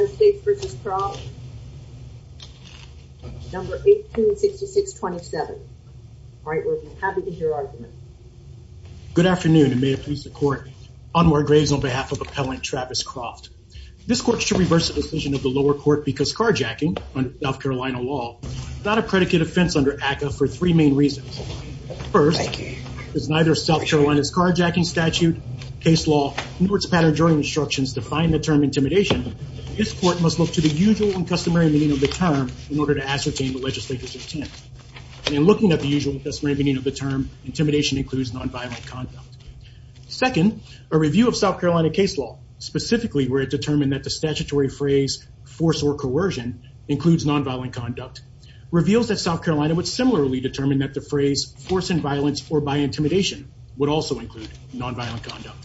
Good afternoon and may it please the court, Anwar Graves on behalf of appellant Travis Croft. This court should reverse the decision of the lower court because carjacking under South Carolina law is not a predicate offense under ACCA for three main reasons. First, because neither South Carolina's carjacking statute, case law, nor its define the term intimidation, this court must look to the usual and customary meaning of the term in order to ascertain the legislator's intent. And in looking at the usual and customary meaning of the term, intimidation includes nonviolent conduct. Second, a review of South Carolina case law, specifically where it determined that the statutory phrase force or coercion includes nonviolent conduct, reveals that South Carolina would similarly determine that the phrase force and violence or by intimidation would also include nonviolent conduct.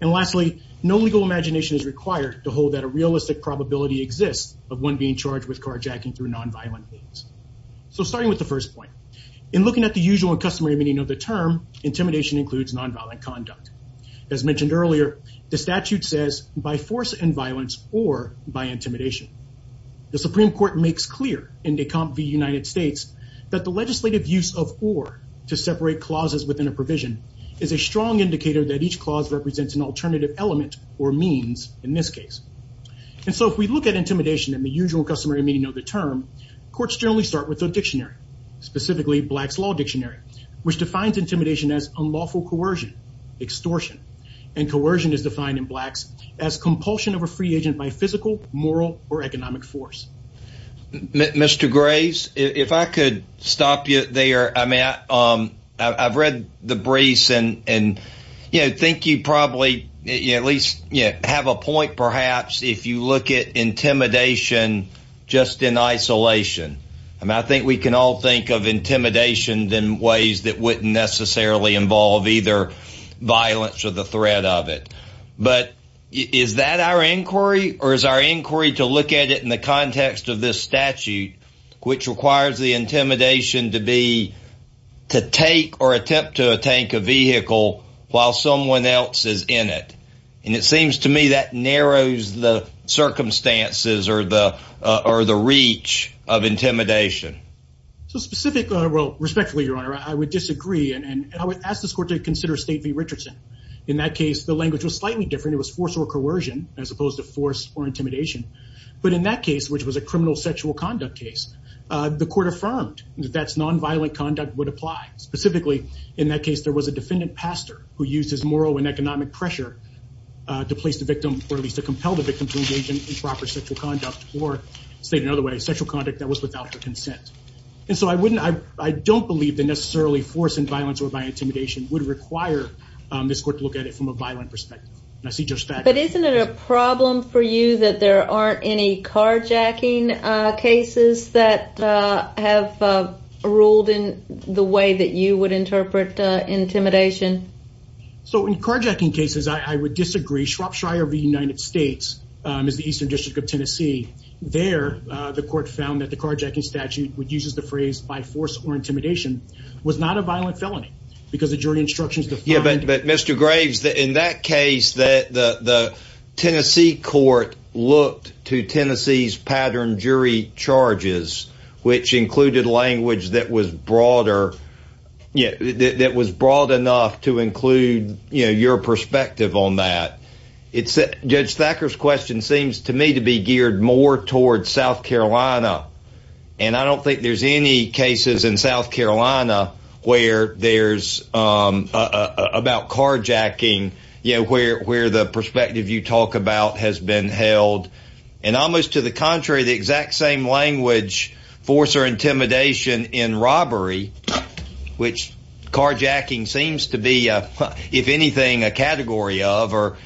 And lastly, no legal imagination is required to hold that a realistic probability exists of one being charged with carjacking through nonviolent means. So starting with the first point, in looking at the usual and customary meaning of the term, intimidation includes nonviolent conduct. As mentioned earlier, the statute says by force and violence or by intimidation. The Supreme Court makes clear in Decomp v. United States that the legislative use of or to separate clauses within a provision is a strong indicator that each clause represents an alternative element or means in this case. And so if we look at intimidation in the usual customary meaning of the term, courts generally start with a dictionary, specifically Black's Law Dictionary, which defines intimidation as unlawful coercion, extortion. And coercion is defined in Blacks as compulsion of a free agent by physical, moral, or economic force. Mr. Graves, if I could stop you there. I mean, I've read the briefs and, you know, think you probably at least have a point, perhaps, if you look at intimidation, just in isolation. And I think we can all think of intimidation in ways that wouldn't necessarily involve either violence or the threat of it. But is that our inquiry? Or is our inquiry to look at it in the context of this statute, which requires the intimidation to be to take or attempt to take a vehicle while someone else is in it? And it seems to me that narrows the circumstances or the or the reach of intimidation. So specifically, well, respectfully, Your Honor, I would disagree. And I would ask this court to consider State v. Richardson. In that case, the language was slightly different. It was force or coercion, as opposed to force or intimidation. But in that case, which was a criminal sexual conduct case, the court affirmed that that's nonviolent conduct would apply. Specifically, in that case, there was a defendant pastor who used his moral and economic pressure to place the victim, or at least to compel the victim to engage in improper sexual conduct, or state another way, sexual conduct that was without their consent. And so I don't believe that necessarily force and violence or by intimidation would require this court to look at it from a violent perspective. And I see Judge Thacker. But isn't it a problem for you that there aren't any carjacking cases that have ruled in the way that you would interpret intimidation? So in carjacking cases, I would disagree. Shropshire v. United States is the Eastern District of Tennessee. There, the court found that the carjacking statute would use the phrase force or intimidation was not a violent felony, because the jury instructions. Yeah, but Mr. Graves, in that case, that the Tennessee court looked to Tennessee's pattern jury charges, which included language that was broader. Yeah, that was broad enough to include, you know, your perspective on that. It's that Judge Thacker's question seems to me to be geared more towards South Carolina. And I don't think there's any cases in South Carolina, where there's about carjacking, you know, where the perspective you talk about has been held. And almost to the contrary, the exact same language, force or intimidation in robbery, which carjacking seems to be, if anything, a category of or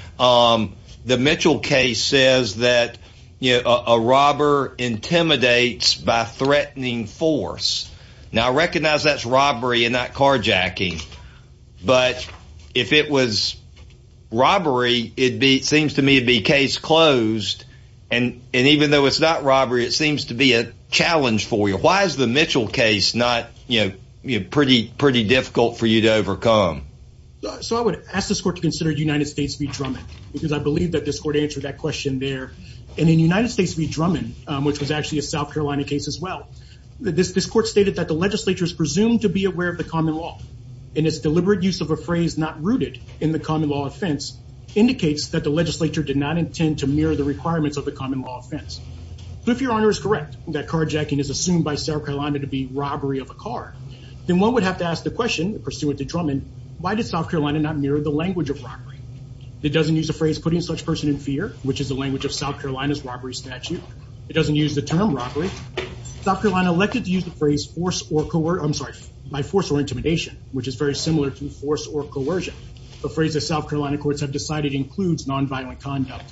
the Mitchell case says that, you know, a robber intimidates by threatening force. Now recognize that's robbery and not carjacking. But if it was robbery, it'd be seems to me to be case closed. And even though it's not robbery, it seems to be a challenge for why is the Mitchell case not, you know, pretty, pretty difficult for you to overcome. So I would ask this court to consider United States v. Drummond, because I believe that this court answered that question there. And in United States v. Drummond, which was actually a South Carolina case as well, that this this court stated that the legislature is presumed to be aware of the common law. And it's deliberate use of a phrase not rooted in the common law offense indicates that the legislature did not intend to mirror the requirements of the common law offense. But if your honor is correct, that carjacking is assumed by South Carolina to be robbery of a car, then one would have to ask the question pursuant to Drummond, why did South Carolina not mirror the language of robbery? It doesn't use a phrase putting such person in fear, which is the language of South Carolina's robbery statute. It doesn't use the term robbery. South Carolina elected to use the phrase force or coercion, I'm sorry, by force or intimidation, which is very similar to force or coercion. The phrase that South Carolina courts have decided includes nonviolent conduct.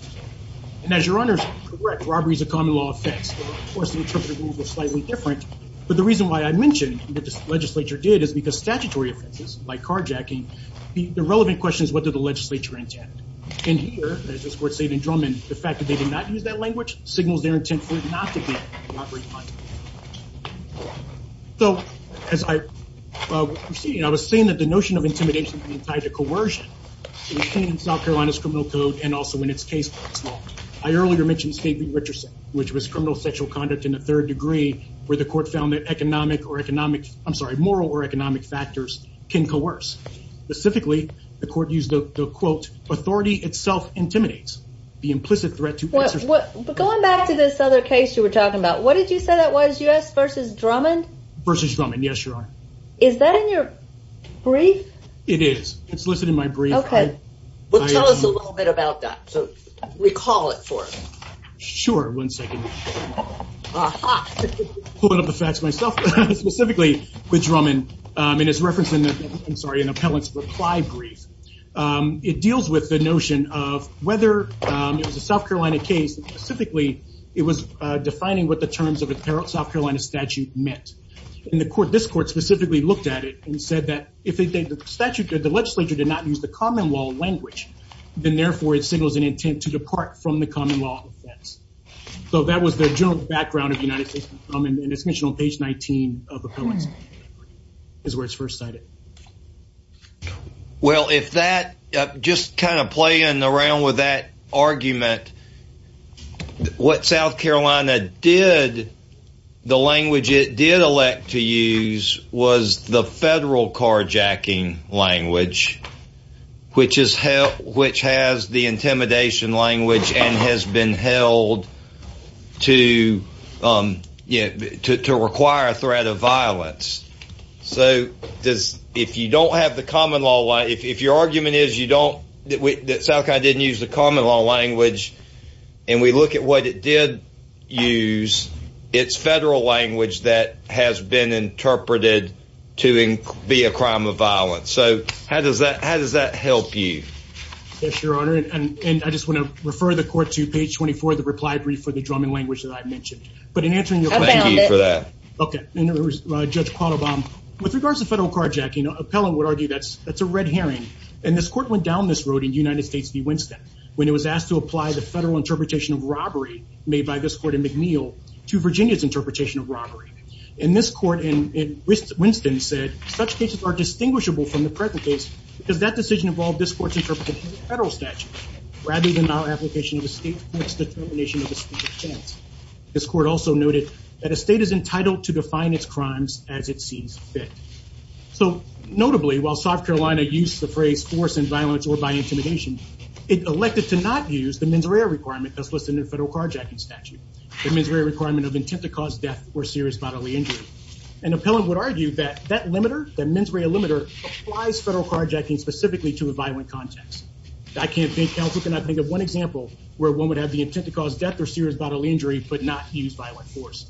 And as your honors correct, robbery is a common law offense. Of course, the interpretive rules are slightly different. But the reason why I mentioned what this legislature did is because statutory offenses like carjacking, the relevant question is what did the legislature intend? And here, as this court stated in Drummond, the fact that they did not use that language signals their intent for not to get robbery punishment. So as I was proceeding, I was saying that the notion of intimidation being tied to coercion in South Carolina's criminal code and also in its case law. I earlier mentioned Skateley-Richardson, which was criminal sexual conduct in a third degree, where the court found that economic or economic, I'm sorry, moral or economic factors can coerce. Specifically, the court used the quote, authority itself intimidates the implicit threat to- But going back to this other case you were talking about, what did you say that was? U.S. versus Drummond? Versus Drummond, yes, your honor. It is. It's listed in my brief. Well, tell us a little bit about that. So recall it for us. Sure. One second. Pulling up the facts myself, specifically with Drummond, and it's referenced in the, I'm sorry, in appellant's reply brief. It deals with the notion of whether it was a South Carolina case, specifically, it was defining what the terms of a South Carolina statute meant. And the court, this court specifically looked at it and said that if the statute, the legislature did not use common law language, then therefore it signals an intent to depart from the common law offense. So that was the general background of United States v. Drummond, and it's mentioned on page 19 of appellant's brief, is where it's first cited. Well, if that, just kind of playing around with that argument, what South Carolina did, the language it did elect to use was the federal carjacking language, which has the intimidation language and has been held to require a threat of violence. So if you don't have the common law, if your argument is you don't, that South Carolina didn't use the common law language, and we look at what it did use, it's federal language that has been interpreted to be a crime of violence. So how does that help you? Yes, your honor. And I just want to refer the court to page 24 of the reply brief for the Drummond language that I've mentioned. But in answering your question- I found it. Okay. In other words, Judge Quattlebaum, with regards to federal carjacking, appellant would argue that's a red herring. And this court went down this road in United when it was asked to apply the federal interpretation of robbery made by this court in McNeil to Virginia's interpretation of robbery. And this court in Winston said, such cases are distinguishable from the present case because that decision involved this court's interpretation of the federal statute, rather than our application of a state court's determination of the state of chance. This court also noted that a state is entitled to define its crimes as it sees fit. So notably, while South Carolina used the phrase force and violence or by intimidation, it elected to not use the mens rea requirement that's listed in the federal carjacking statute. The mens rea requirement of intent to cause death or serious bodily injury. And appellant would argue that that mens rea limiter applies federal carjacking specifically to a violent context. I can't think- counsel cannot think of one example where one would have the intent to cause death or serious bodily injury, but not use violent force.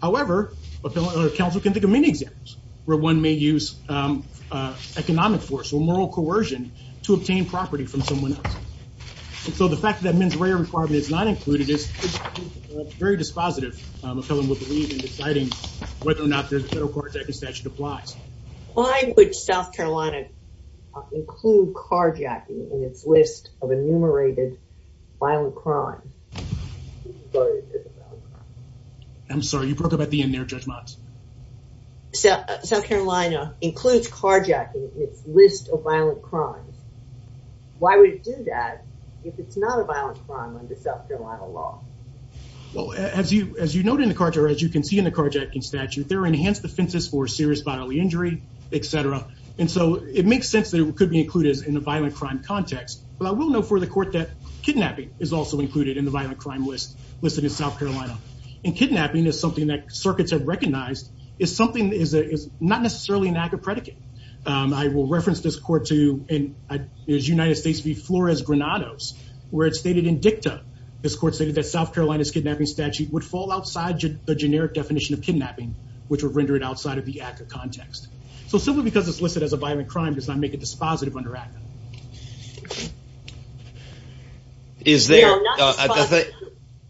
However, counsel can think of many examples where one may use economic force or moral coercion to obtain property from someone else. And so the fact that mens rea requirement is not included is very dispositive. Appellant would believe in deciding whether or not the federal carjacking statute applies. Why would South Carolina include carjacking in its list of enumerated violent crime? I'm sorry, you broke up at the end there, Judge Mott. South Carolina includes carjacking in its list of violent crimes. Why would it do that if it's not a violent crime under South Carolina law? Well, as you noted in the carjacking statute, there are enhanced defenses for serious bodily injury, et cetera. And so it makes sense that it could be included in the violent crime context. But I will note for the court that kidnapping is also included in the violent crime list in South Carolina. And kidnapping is something that circuits have recognized. It's not necessarily an ACCA predicate. I will reference this court to United States v. Flores-Granados, where it's stated in dicta. This court stated that South Carolina's kidnapping statute would fall outside the generic definition of kidnapping, which would render it outside of the ACCA context. So simply because it's listed as a violent crime does not make it dispositive under ACCA. We are not dispositive.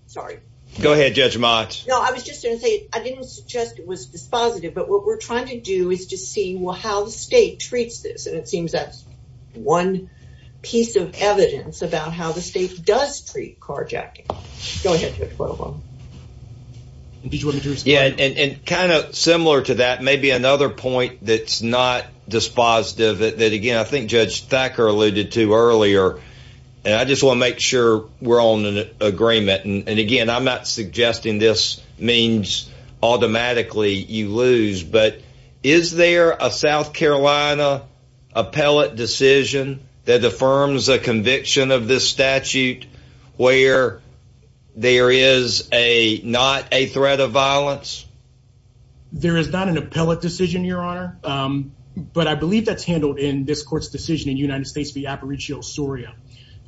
Sorry. Go ahead, Judge Mott. No, I was just going to say, I didn't suggest it was dispositive. But what we're trying to do is to see how the state treats this. And it seems that's one piece of evidence about how the state does treat carjacking. Go ahead, Judge Guadalupe. Yeah, and kind of similar to that, maybe another point that's not dispositive that, I think Judge Thacker alluded to earlier. And I just want to make sure we're on an agreement. And again, I'm not suggesting this means automatically you lose. But is there a South Carolina appellate decision that affirms a conviction of this statute where there is not a threat of violence? There is not an appellate decision, Your Honor. But I believe that's handled in this court's decision in United States v. Aparicio Soria.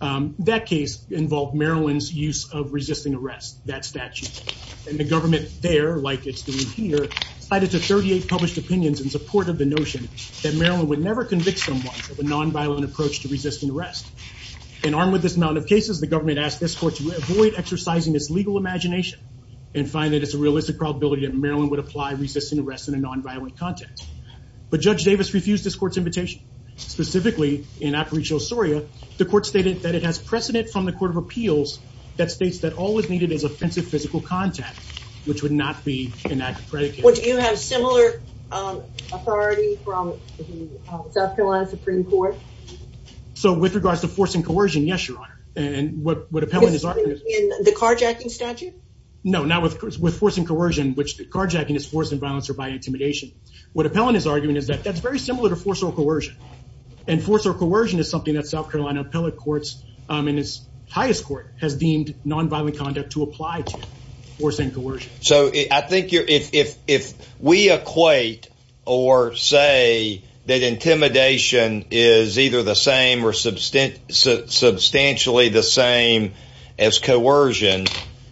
That case involved Maryland's use of resisting arrest, that statute. And the government there, like it's doing here, cited to 38 published opinions in support of the notion that Maryland would never convict someone of a nonviolent approach to resisting arrest. And armed with this amount of cases, the government asked this court to avoid exercising its legal imagination and find that it's a realistic probability that Maryland would apply resisting arrest in a nonviolent context. But Judge Davis refused this court's invitation. Specifically, in Aparicio Soria, the court stated that it has precedent from the Court of Appeals that states that all is needed is offensive physical contact, which would not be an act of predicate. Would you have similar authority from South Carolina Supreme Court? So, with regards to force and coercion, yes, Your Honor. And what appellant is arguing... The carjacking statute? No, not with force and coercion, which the carjacking is forced in violence or by intimidation. What appellant is arguing is that that's very similar to force or coercion. And force or coercion is something that South Carolina appellate courts in its highest court has deemed nonviolent conduct to apply to force and coercion. So, I think if we equate or say that intimidation is either the same or substantially the same as coercion,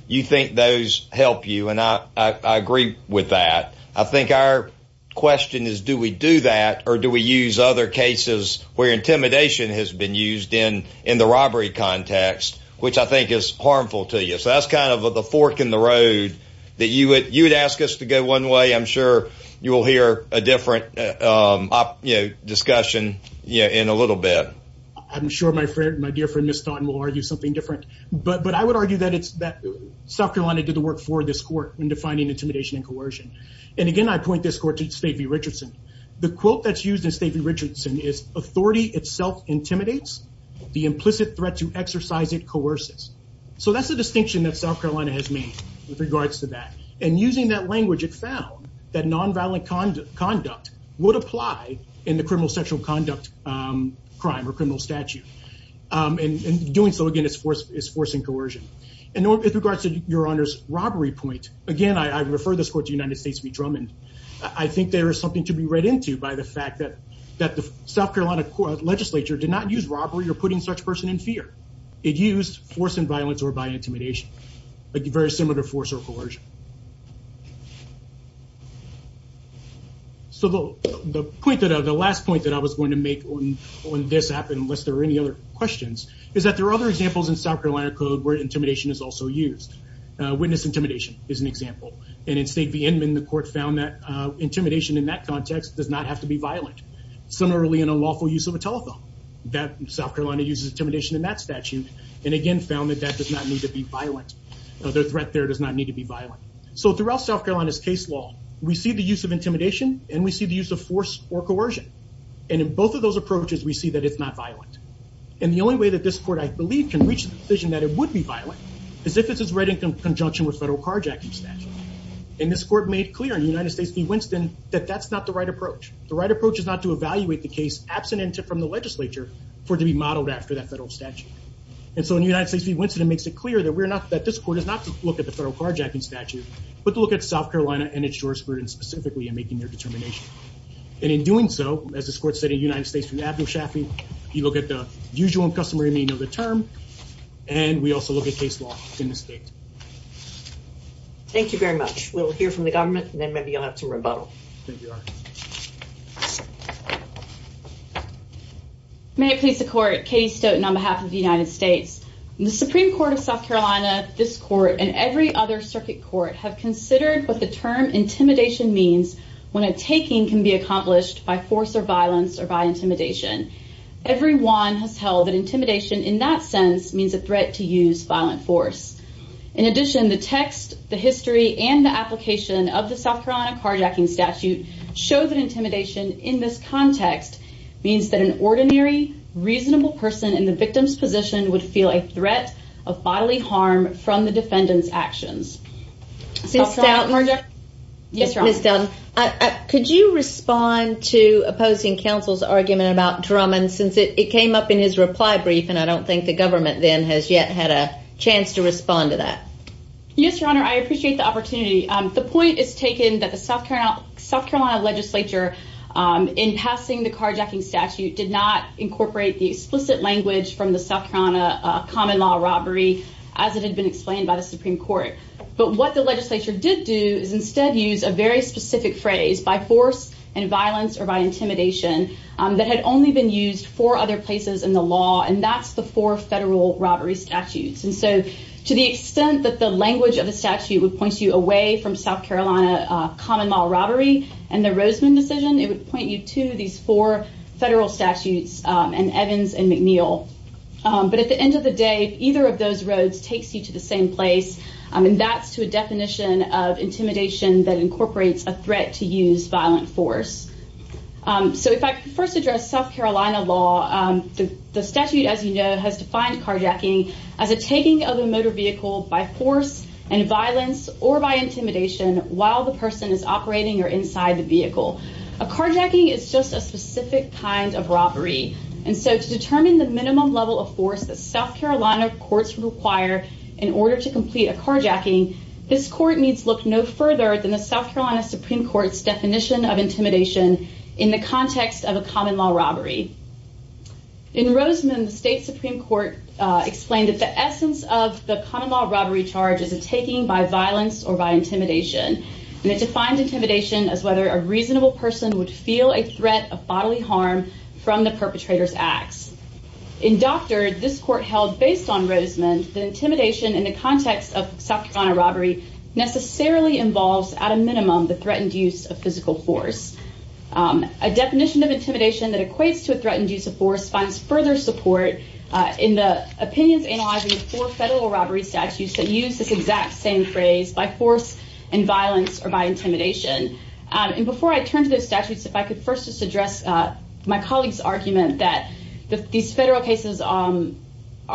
you think those help you. And I agree with that. I think our question is, do we do that or do we use other cases where intimidation has been used in the robbery context, which I think is harmful to you. So, that's kind of the fork in the road that you would ask us to go one way. I'm sure you will hear a different discussion in a little bit. I'm sure my dear friend, Ms. Thorn, will argue something different. But I would argue that South Carolina did the work for this court in defining intimidation and coercion. And again, I point this court to Stavey Richardson. The quote that's used in Stavey Richardson is, authority itself intimidates, the implicit threat to exercise it coerces. So, that's the distinction that South Carolina has with regards to that. And using that language, it found that nonviolent conduct would apply in the criminal sexual conduct crime or criminal statute. And doing so, again, is forcing coercion. And with regards to Your Honor's robbery point, again, I refer this court to the United States v. Drummond. I think there is something to be read into by the fact that the South Carolina legislature did not use robbery or putting such person in fear. It used force and violence or intimidation. Very similar to force or coercion. So, the last point that I was going to make when this happened, unless there are any other questions, is that there are other examples in South Carolina code where intimidation is also used. Witness intimidation is an example. And in Stavey Endman, the court found that intimidation in that context does not have to be violent. Similarly, in a lawful use of a telephone, South Carolina uses intimidation in that statute. And again, found that that does not need to be violent. The threat there does not need to be violent. So, throughout South Carolina's case law, we see the use of intimidation and we see the use of force or coercion. And in both of those approaches, we see that it's not violent. And the only way that this court, I believe, can reach the decision that it would be violent is if it's read in conjunction with federal carjacking statute. And this court made clear in the United States v. Winston that that's not the right approach. The right approach is not to evaluate the case absent from the legislature for it to be modeled after that federal statute. And so in the United States v. Winston, it makes it clear that we're not, that this court is not to look at the federal carjacking statute, but to look at South Carolina and its jurisprudence specifically in making their determination. And in doing so, as this court said in the United States v. Abdul Shafi, you look at the usual and customary meaning of the term. And we also look at case law in the state. Thank you very much. We'll hear from the government and then maybe you'll have some rebuttal. May it please the court, Katie Stoughton on behalf of the United States. The Supreme Court of South Carolina, this court, and every other circuit court have considered what the term intimidation means when a taking can be accomplished by force or violence or by intimidation. Everyone has held that intimidation in that sense means a threat to use violent force. In addition, the text, the history, and the application of the South Carolina carjacking statute show that intimidation in this context means that an ordinary reasonable person in the victim's position would feel a threat of bodily harm from the defendant's actions. Yes, Your Honor. Ms. Stoughton, could you respond to opposing counsel's argument about Drummond since it came up in his reply brief and I don't think the government then has yet had a chance to respond to that. Yes, Your Honor, I appreciate the opportunity. The point is taken that the South Carolina legislature in passing the carjacking statute did not incorporate the South Carolina common law robbery, as it had been explained by the Supreme Court. But what the legislature did do is instead use a very specific phrase by force and violence or by intimidation that had only been used for other places in the law. And that's the four federal robbery statutes. And so to the extent that the language of the statute would point you away from South Carolina common law robbery, and the Roseman decision, it would point you to these four federal statutes, and Evans and McNeil. But at the end of the day, either of those roads takes you to the same place. I mean, that's to a definition of intimidation that incorporates a threat to use violent force. So if I first address South Carolina law, the statute, as you know, has defined carjacking as a taking of a motor vehicle by force and violence or by intimidation while the person is operating or inside the vehicle. A carjacking is just a specific kind of robbery. And so to determine the minimum level of force that South Carolina courts require, in order to complete a carjacking, this court needs look no further than the South Carolina Supreme Court's definition of intimidation in the context of a common law robbery. In Roseman, the state Supreme Court explained that the essence of the common law robbery charge is a taking by violence or by intimidation. The court defined intimidation as whether a reasonable person would feel a threat of bodily harm from the perpetrator's acts. In doctor, this court held based on Roseman, the intimidation in the context of South Carolina robbery necessarily involves at a minimum the threatened use of physical force. A definition of intimidation that equates to a threatened use of force finds further support in the opinions analyzing the four federal robbery statutes that use this exact same phrase by force and violence or by intimidation. And before I turn to those statutes, if I could first just address my colleague's argument that these federal cases are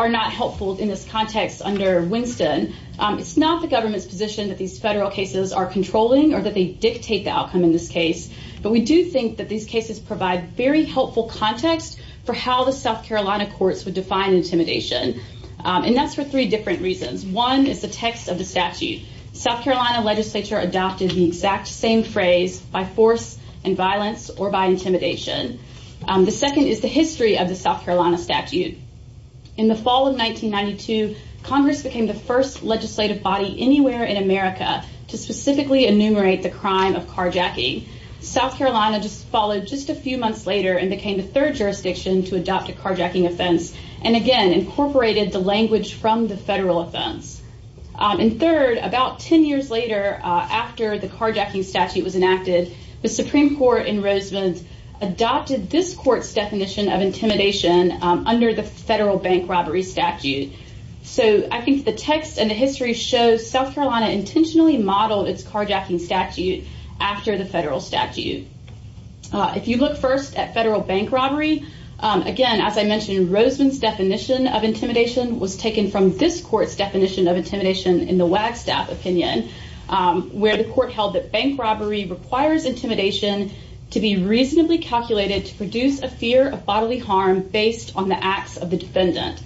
not helpful in this context under Winston, it's not the government's position that these federal cases are controlling or that they dictate the outcome in this case. But we do think that these cases provide very helpful context for how the South Carolina courts would define intimidation. And that's for three different reasons. One is the text of the statute, South Carolina legislature adopted the exact same phrase by force and violence or by intimidation. The second is the history of the South Carolina statute. In the fall of 1992, Congress became the first legislative body anywhere in America to specifically enumerate the crime of carjacking. South Carolina just followed just a few months later and became the third jurisdiction to adopt a carjacking offense, and again, incorporated the language from the federal offense. And third, about 10 years later, after the carjacking statute was enacted, the Supreme Court in Roseman's adopted this court's definition of intimidation under the federal bank robbery statute. So I think the text and the history shows South Carolina intentionally modeled its carjacking statute after the federal statute. If you look first at federal bank robbery, again, as I mentioned, Roseman's definition of intimidation was taken from this court's definition of intimidation in the Wagstaff opinion, where the court held that bank robbery requires intimidation to be reasonably calculated to produce a fear of bodily harm based on the acts of the defendant.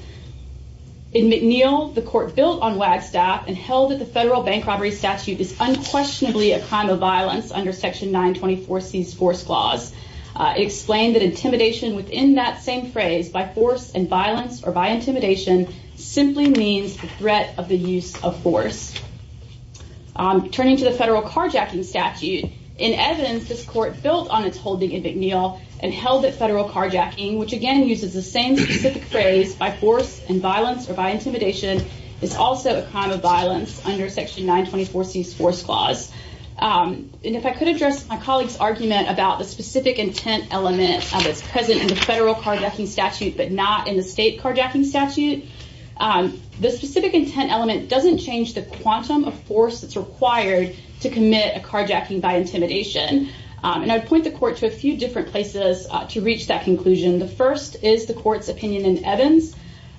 In McNeil, the court built on Wagstaff and held that the federal bank robbery statute is unquestionably a crime of violence under section 924 C's force clause. It explained that intimidation within that same phrase by force and violence or by intimidation simply means the threat of the use of force. Turning to the federal carjacking statute, in Evans, this court built on its holding in McNeil and held that federal carjacking, which again uses the same specific phrase by force and violence or by intimidation, is also a crime of violence under section 924 C's force clause. And if I could address my colleague's argument about the specific intent element that's present in the federal carjacking statute, but not in the state carjacking statute, the specific intent element doesn't change the quantum of force that's required to commit a carjacking by intimidation. And I'd point the court to a few different places to reach that conclusion. The first is the court's opinion in Evans.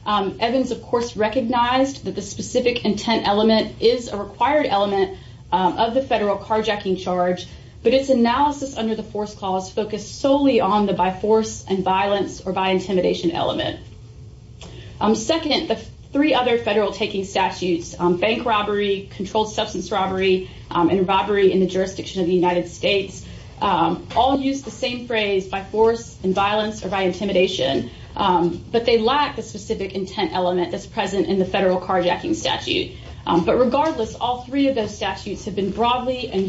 Evans, of course, recognized that the specific intent element is a required element of the federal carjacking charge, but its analysis under the force clause focused solely on the by force and violence or by intimidation element. Second, the three other federal taking statutes, bank robbery, controlled substance robbery, and robbery in the jurisdiction of the United States, all use the same phrase by force and violence or by intimidation. But they lack the specific intent element that's present in the federal carjacking statute. But regardless, all three of those statutes have been broadly and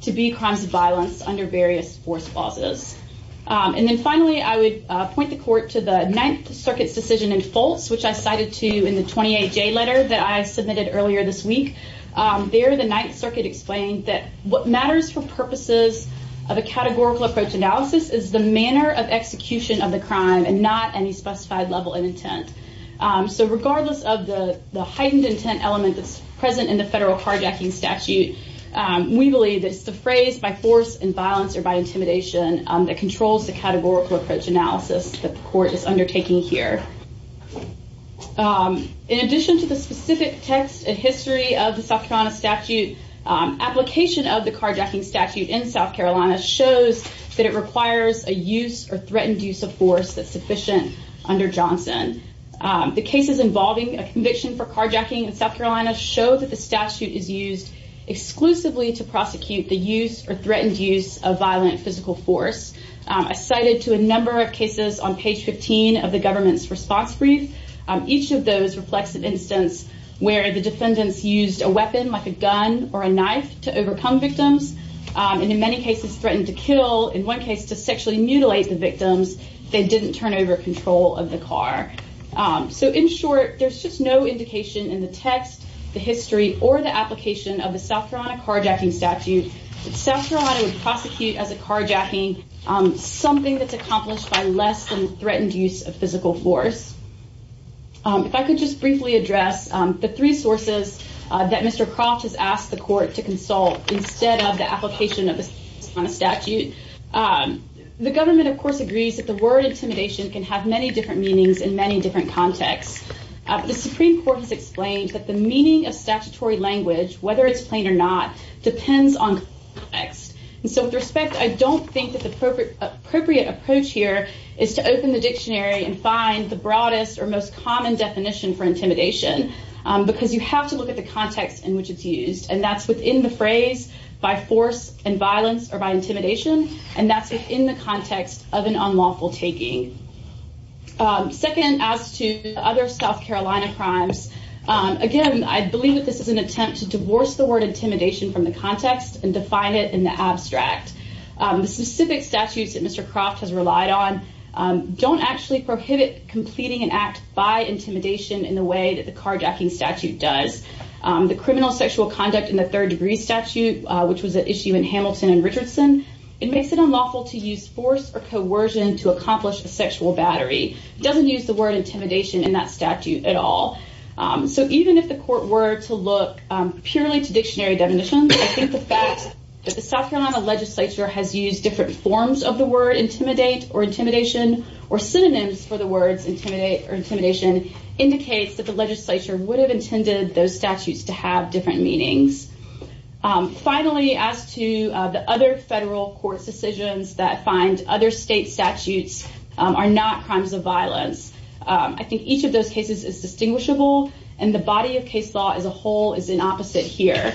to be crimes of violence under various force clauses. And then finally, I would point the court to the Ninth Circuit's decision in false, which I cited to you in the 28 J letter that I submitted earlier this week. There, the Ninth Circuit explained that what matters for purposes of a categorical approach analysis is the manner of execution of the crime and not any specified level of intent. So regardless of the heightened intent element that's present in the federal carjacking statute, we believe that it's the phrase by force and violence or by intimidation that controls the categorical approach analysis that the court is undertaking here. In addition to the specific text and history of the South Carolina statute, application of the carjacking statute in South Carolina shows that it requires a use or threatened use of force that's sufficient under Johnson. The cases involving a conviction for carjacking in exclusively to prosecute the use or threatened use of violent physical force cited to a number of cases on page 15 of the government's response brief. Each of those reflects an instance where the defendants used a weapon like a gun or a knife to overcome victims, and in many cases threatened to kill in one case to sexually mutilate the victims, they didn't turn over control of the car. So in short, there's just no indication in the text, the history or the application of the South Carolina carjacking statute, South Carolina would prosecute as a carjacking something that's accomplished by less than threatened use of physical force. If I could just briefly address the three sources that Mr. Croft has asked the court to consult instead of the application of a statute. The government, of course, agrees that the word intimidation is used in many different contexts. The Supreme Court has explained that the meaning of statutory language, whether it's plain or not, depends on text. And so with respect, I don't think that the appropriate appropriate approach here is to open the dictionary and find the broadest or most common definition for intimidation. Because you have to look at the context in which it's used. And that's within the phrase by force and violence or by intimidation. And that's within the context of an unlawful taking. Second, as to other South Carolina crimes, again, I believe that this is an attempt to divorce the word intimidation from the context and define it in the abstract. The specific statutes that Mr. Croft has relied on don't actually prohibit completing an act by intimidation in the way that the carjacking statute does. The criminal sexual conduct in the third degree statute, which was an issue in the first degree statute, doesn't seem to use force or coercion to accomplish a sexual battery. It doesn't use the word intimidation in that statute at all. So even if the court were to look purely to dictionary definitions, I think the fact that the South Carolina legislature has used different forms of the word intimidate or intimidation or synonyms for the words intimidate or intimidation indicates that the legislature would have intended those statutes to have different meanings. Finally, as to the other federal court's decisions that find other state statutes are not crimes of violence, I think each of those cases is distinguishable. And the body of case law as a whole is an opposite here.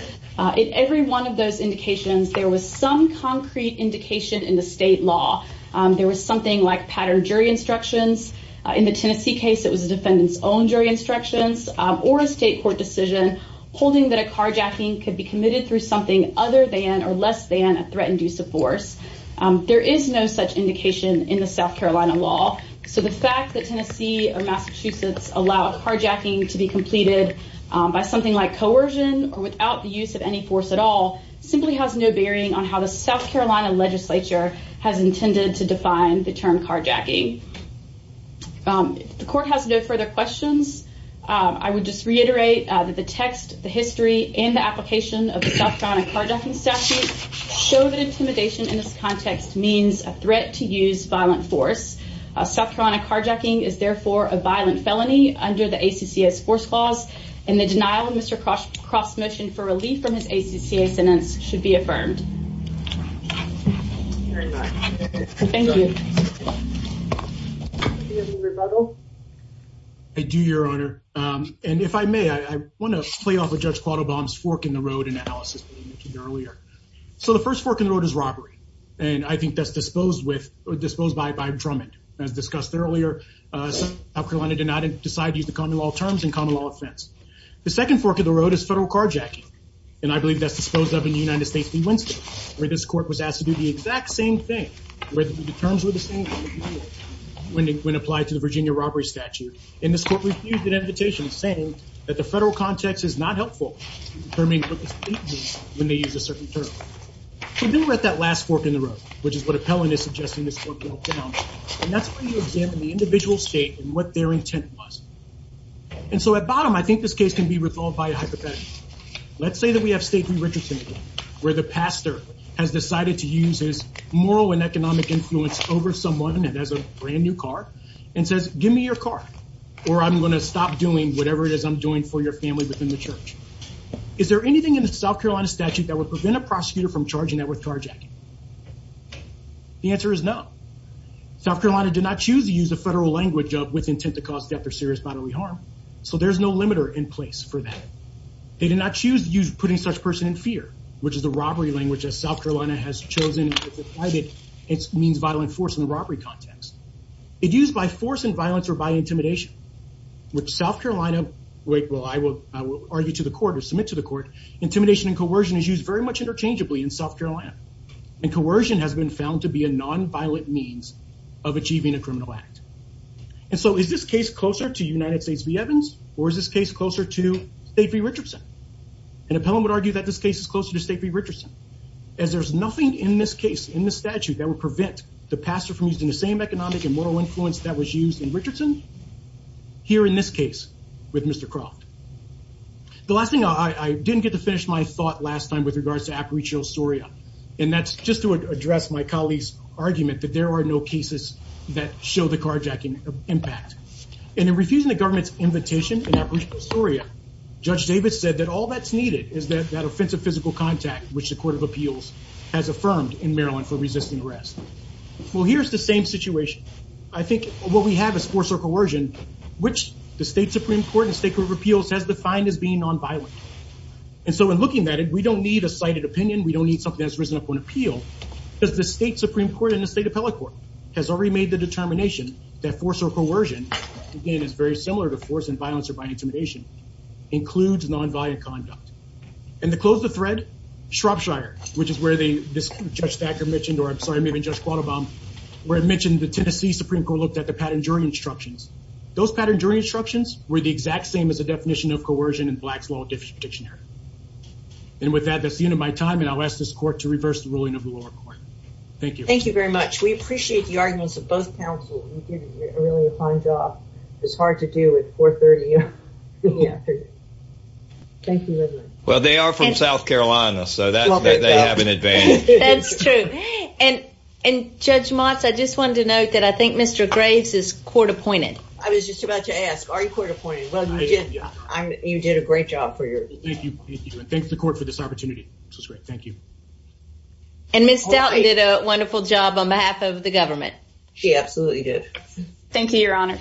In every one of those indications, there was some concrete indication in the state law, there was something like pattern jury instructions. In the Tennessee case, it was a defendant's own jury instructions, or a state court decision, holding that a carjacking could be committed through something other than or less than a threat-induced force. There is no such indication in the South Carolina law. So the fact that Tennessee or Massachusetts allow carjacking to be completed by something like coercion or without the use of any force at all simply has no bearing on how the South Carolina legislature has intended to define the term carjacking. If the court has no further questions, I would just reiterate that the text, the history, and the application of the South Carolina carjacking statute show that intimidation in this context means a threat to use violent force. South Carolina carjacking is therefore a violent felony under the ACCA's force clause, and the denial of Mr. Croft's motion for relief from his ACCA sentence should be affirmed. Thank you. Do you have any rebuttal? I do, Your Honor. And if I may, I want to play off of Judge Quattlebaum's fork in the road analysis that we mentioned earlier. So the first fork in the road is robbery, and I think that's disposed by Drummond. As discussed earlier, South Carolina did not decide to use the common law terms in common law offense. The second fork in the road is federal carjacking, and I believe that's disposed of in the United States v. Winston, where this court was asked to do the exact same thing, where the terms were the same when applied to the Virginia robbery statute, and this court refused an invitation, saying that the federal context is not helpful in determining what the state means when they use a certain term. So then we're at that last fork in the road, which is what Appellant is suggesting this court broke down, and that's when you examine the individual state and what their intent was. And so at bottom, I think this case can be resolved by a hypothetical. Let's say that we have State v. Richardson again, where the pastor has decided to use his moral and economic influence over someone that has a brand new car and says, give me your car, or I'm going to stop doing whatever it is I'm doing for your family within the church. Is there anything in the South Carolina statute that would prevent a prosecutor from charging that with carjacking? The answer is no. South Carolina did not choose to use the federal language of with intent to cause death or serious bodily harm, so there's no limiter in place for that. They did not choose to use putting such person in fear, which is the robbery language South Carolina has chosen. It means violent force in the robbery context. It used by force and violence or by intimidation, which South Carolina, wait, well, I will argue to the court or submit to the court. Intimidation and coercion is used very much interchangeably in South Carolina and coercion has been found to be a non-violent means of achieving a criminal act. And so is this case closer to United States v. Evans, or is this case closer to State v. Richardson? An appellant would argue that this case is closer to State v. Richardson, as there's nothing in this case in the statute that would prevent the pastor from using the same economic and moral influence that was used in Richardson here in this case with Mr. Croft. The last thing, I didn't get to finish my thought last time with regards to Aparicio Soria, and that's just to address my colleague's argument that there are no cases that show the carjacking impact. And in refusing the all that's needed is that offensive physical contact, which the Court of Appeals has affirmed in Maryland for resisting arrest. Well, here's the same situation. I think what we have is force or coercion, which the State Supreme Court and State Court of Appeals has defined as being non-violent. And so in looking at it, we don't need a cited opinion. We don't need something that's risen up on appeal because the State Supreme Court and the State Appellate Court has already made the determination that force or coercion, again, is very similar to force violence or by intimidation, includes non-violent conduct. And to close the thread, Shropshire, which is where this Judge Thacker mentioned, or I'm sorry, maybe Judge Quattlebaum, where I mentioned the Tennessee Supreme Court looked at the pattern during instructions. Those pattern during instructions were the exact same as the definition of coercion in Black's Law of Difference Prediction Area. And with that, that's the end of my time, and I'll ask this court to reverse the ruling of the lower court. Thank you. Thank you very much. We appreciate the arguments of both counsel. You did a really fine job. It's hard to do at 4.30 in the afternoon. Thank you very much. Well, they are from South Carolina, so they have an advantage. That's true. And Judge Motz, I just wanted to note that I think Mr. Graves is court-appointed. I was just about to ask, are you court-appointed? Well, you did a great job for your- Thank you. Thank you. And thanks to the court for this opportunity. This was great. Thank you. And Ms. Stoughton did a wonderful job on behalf of the government. She absolutely did. Thank you, Your Honor.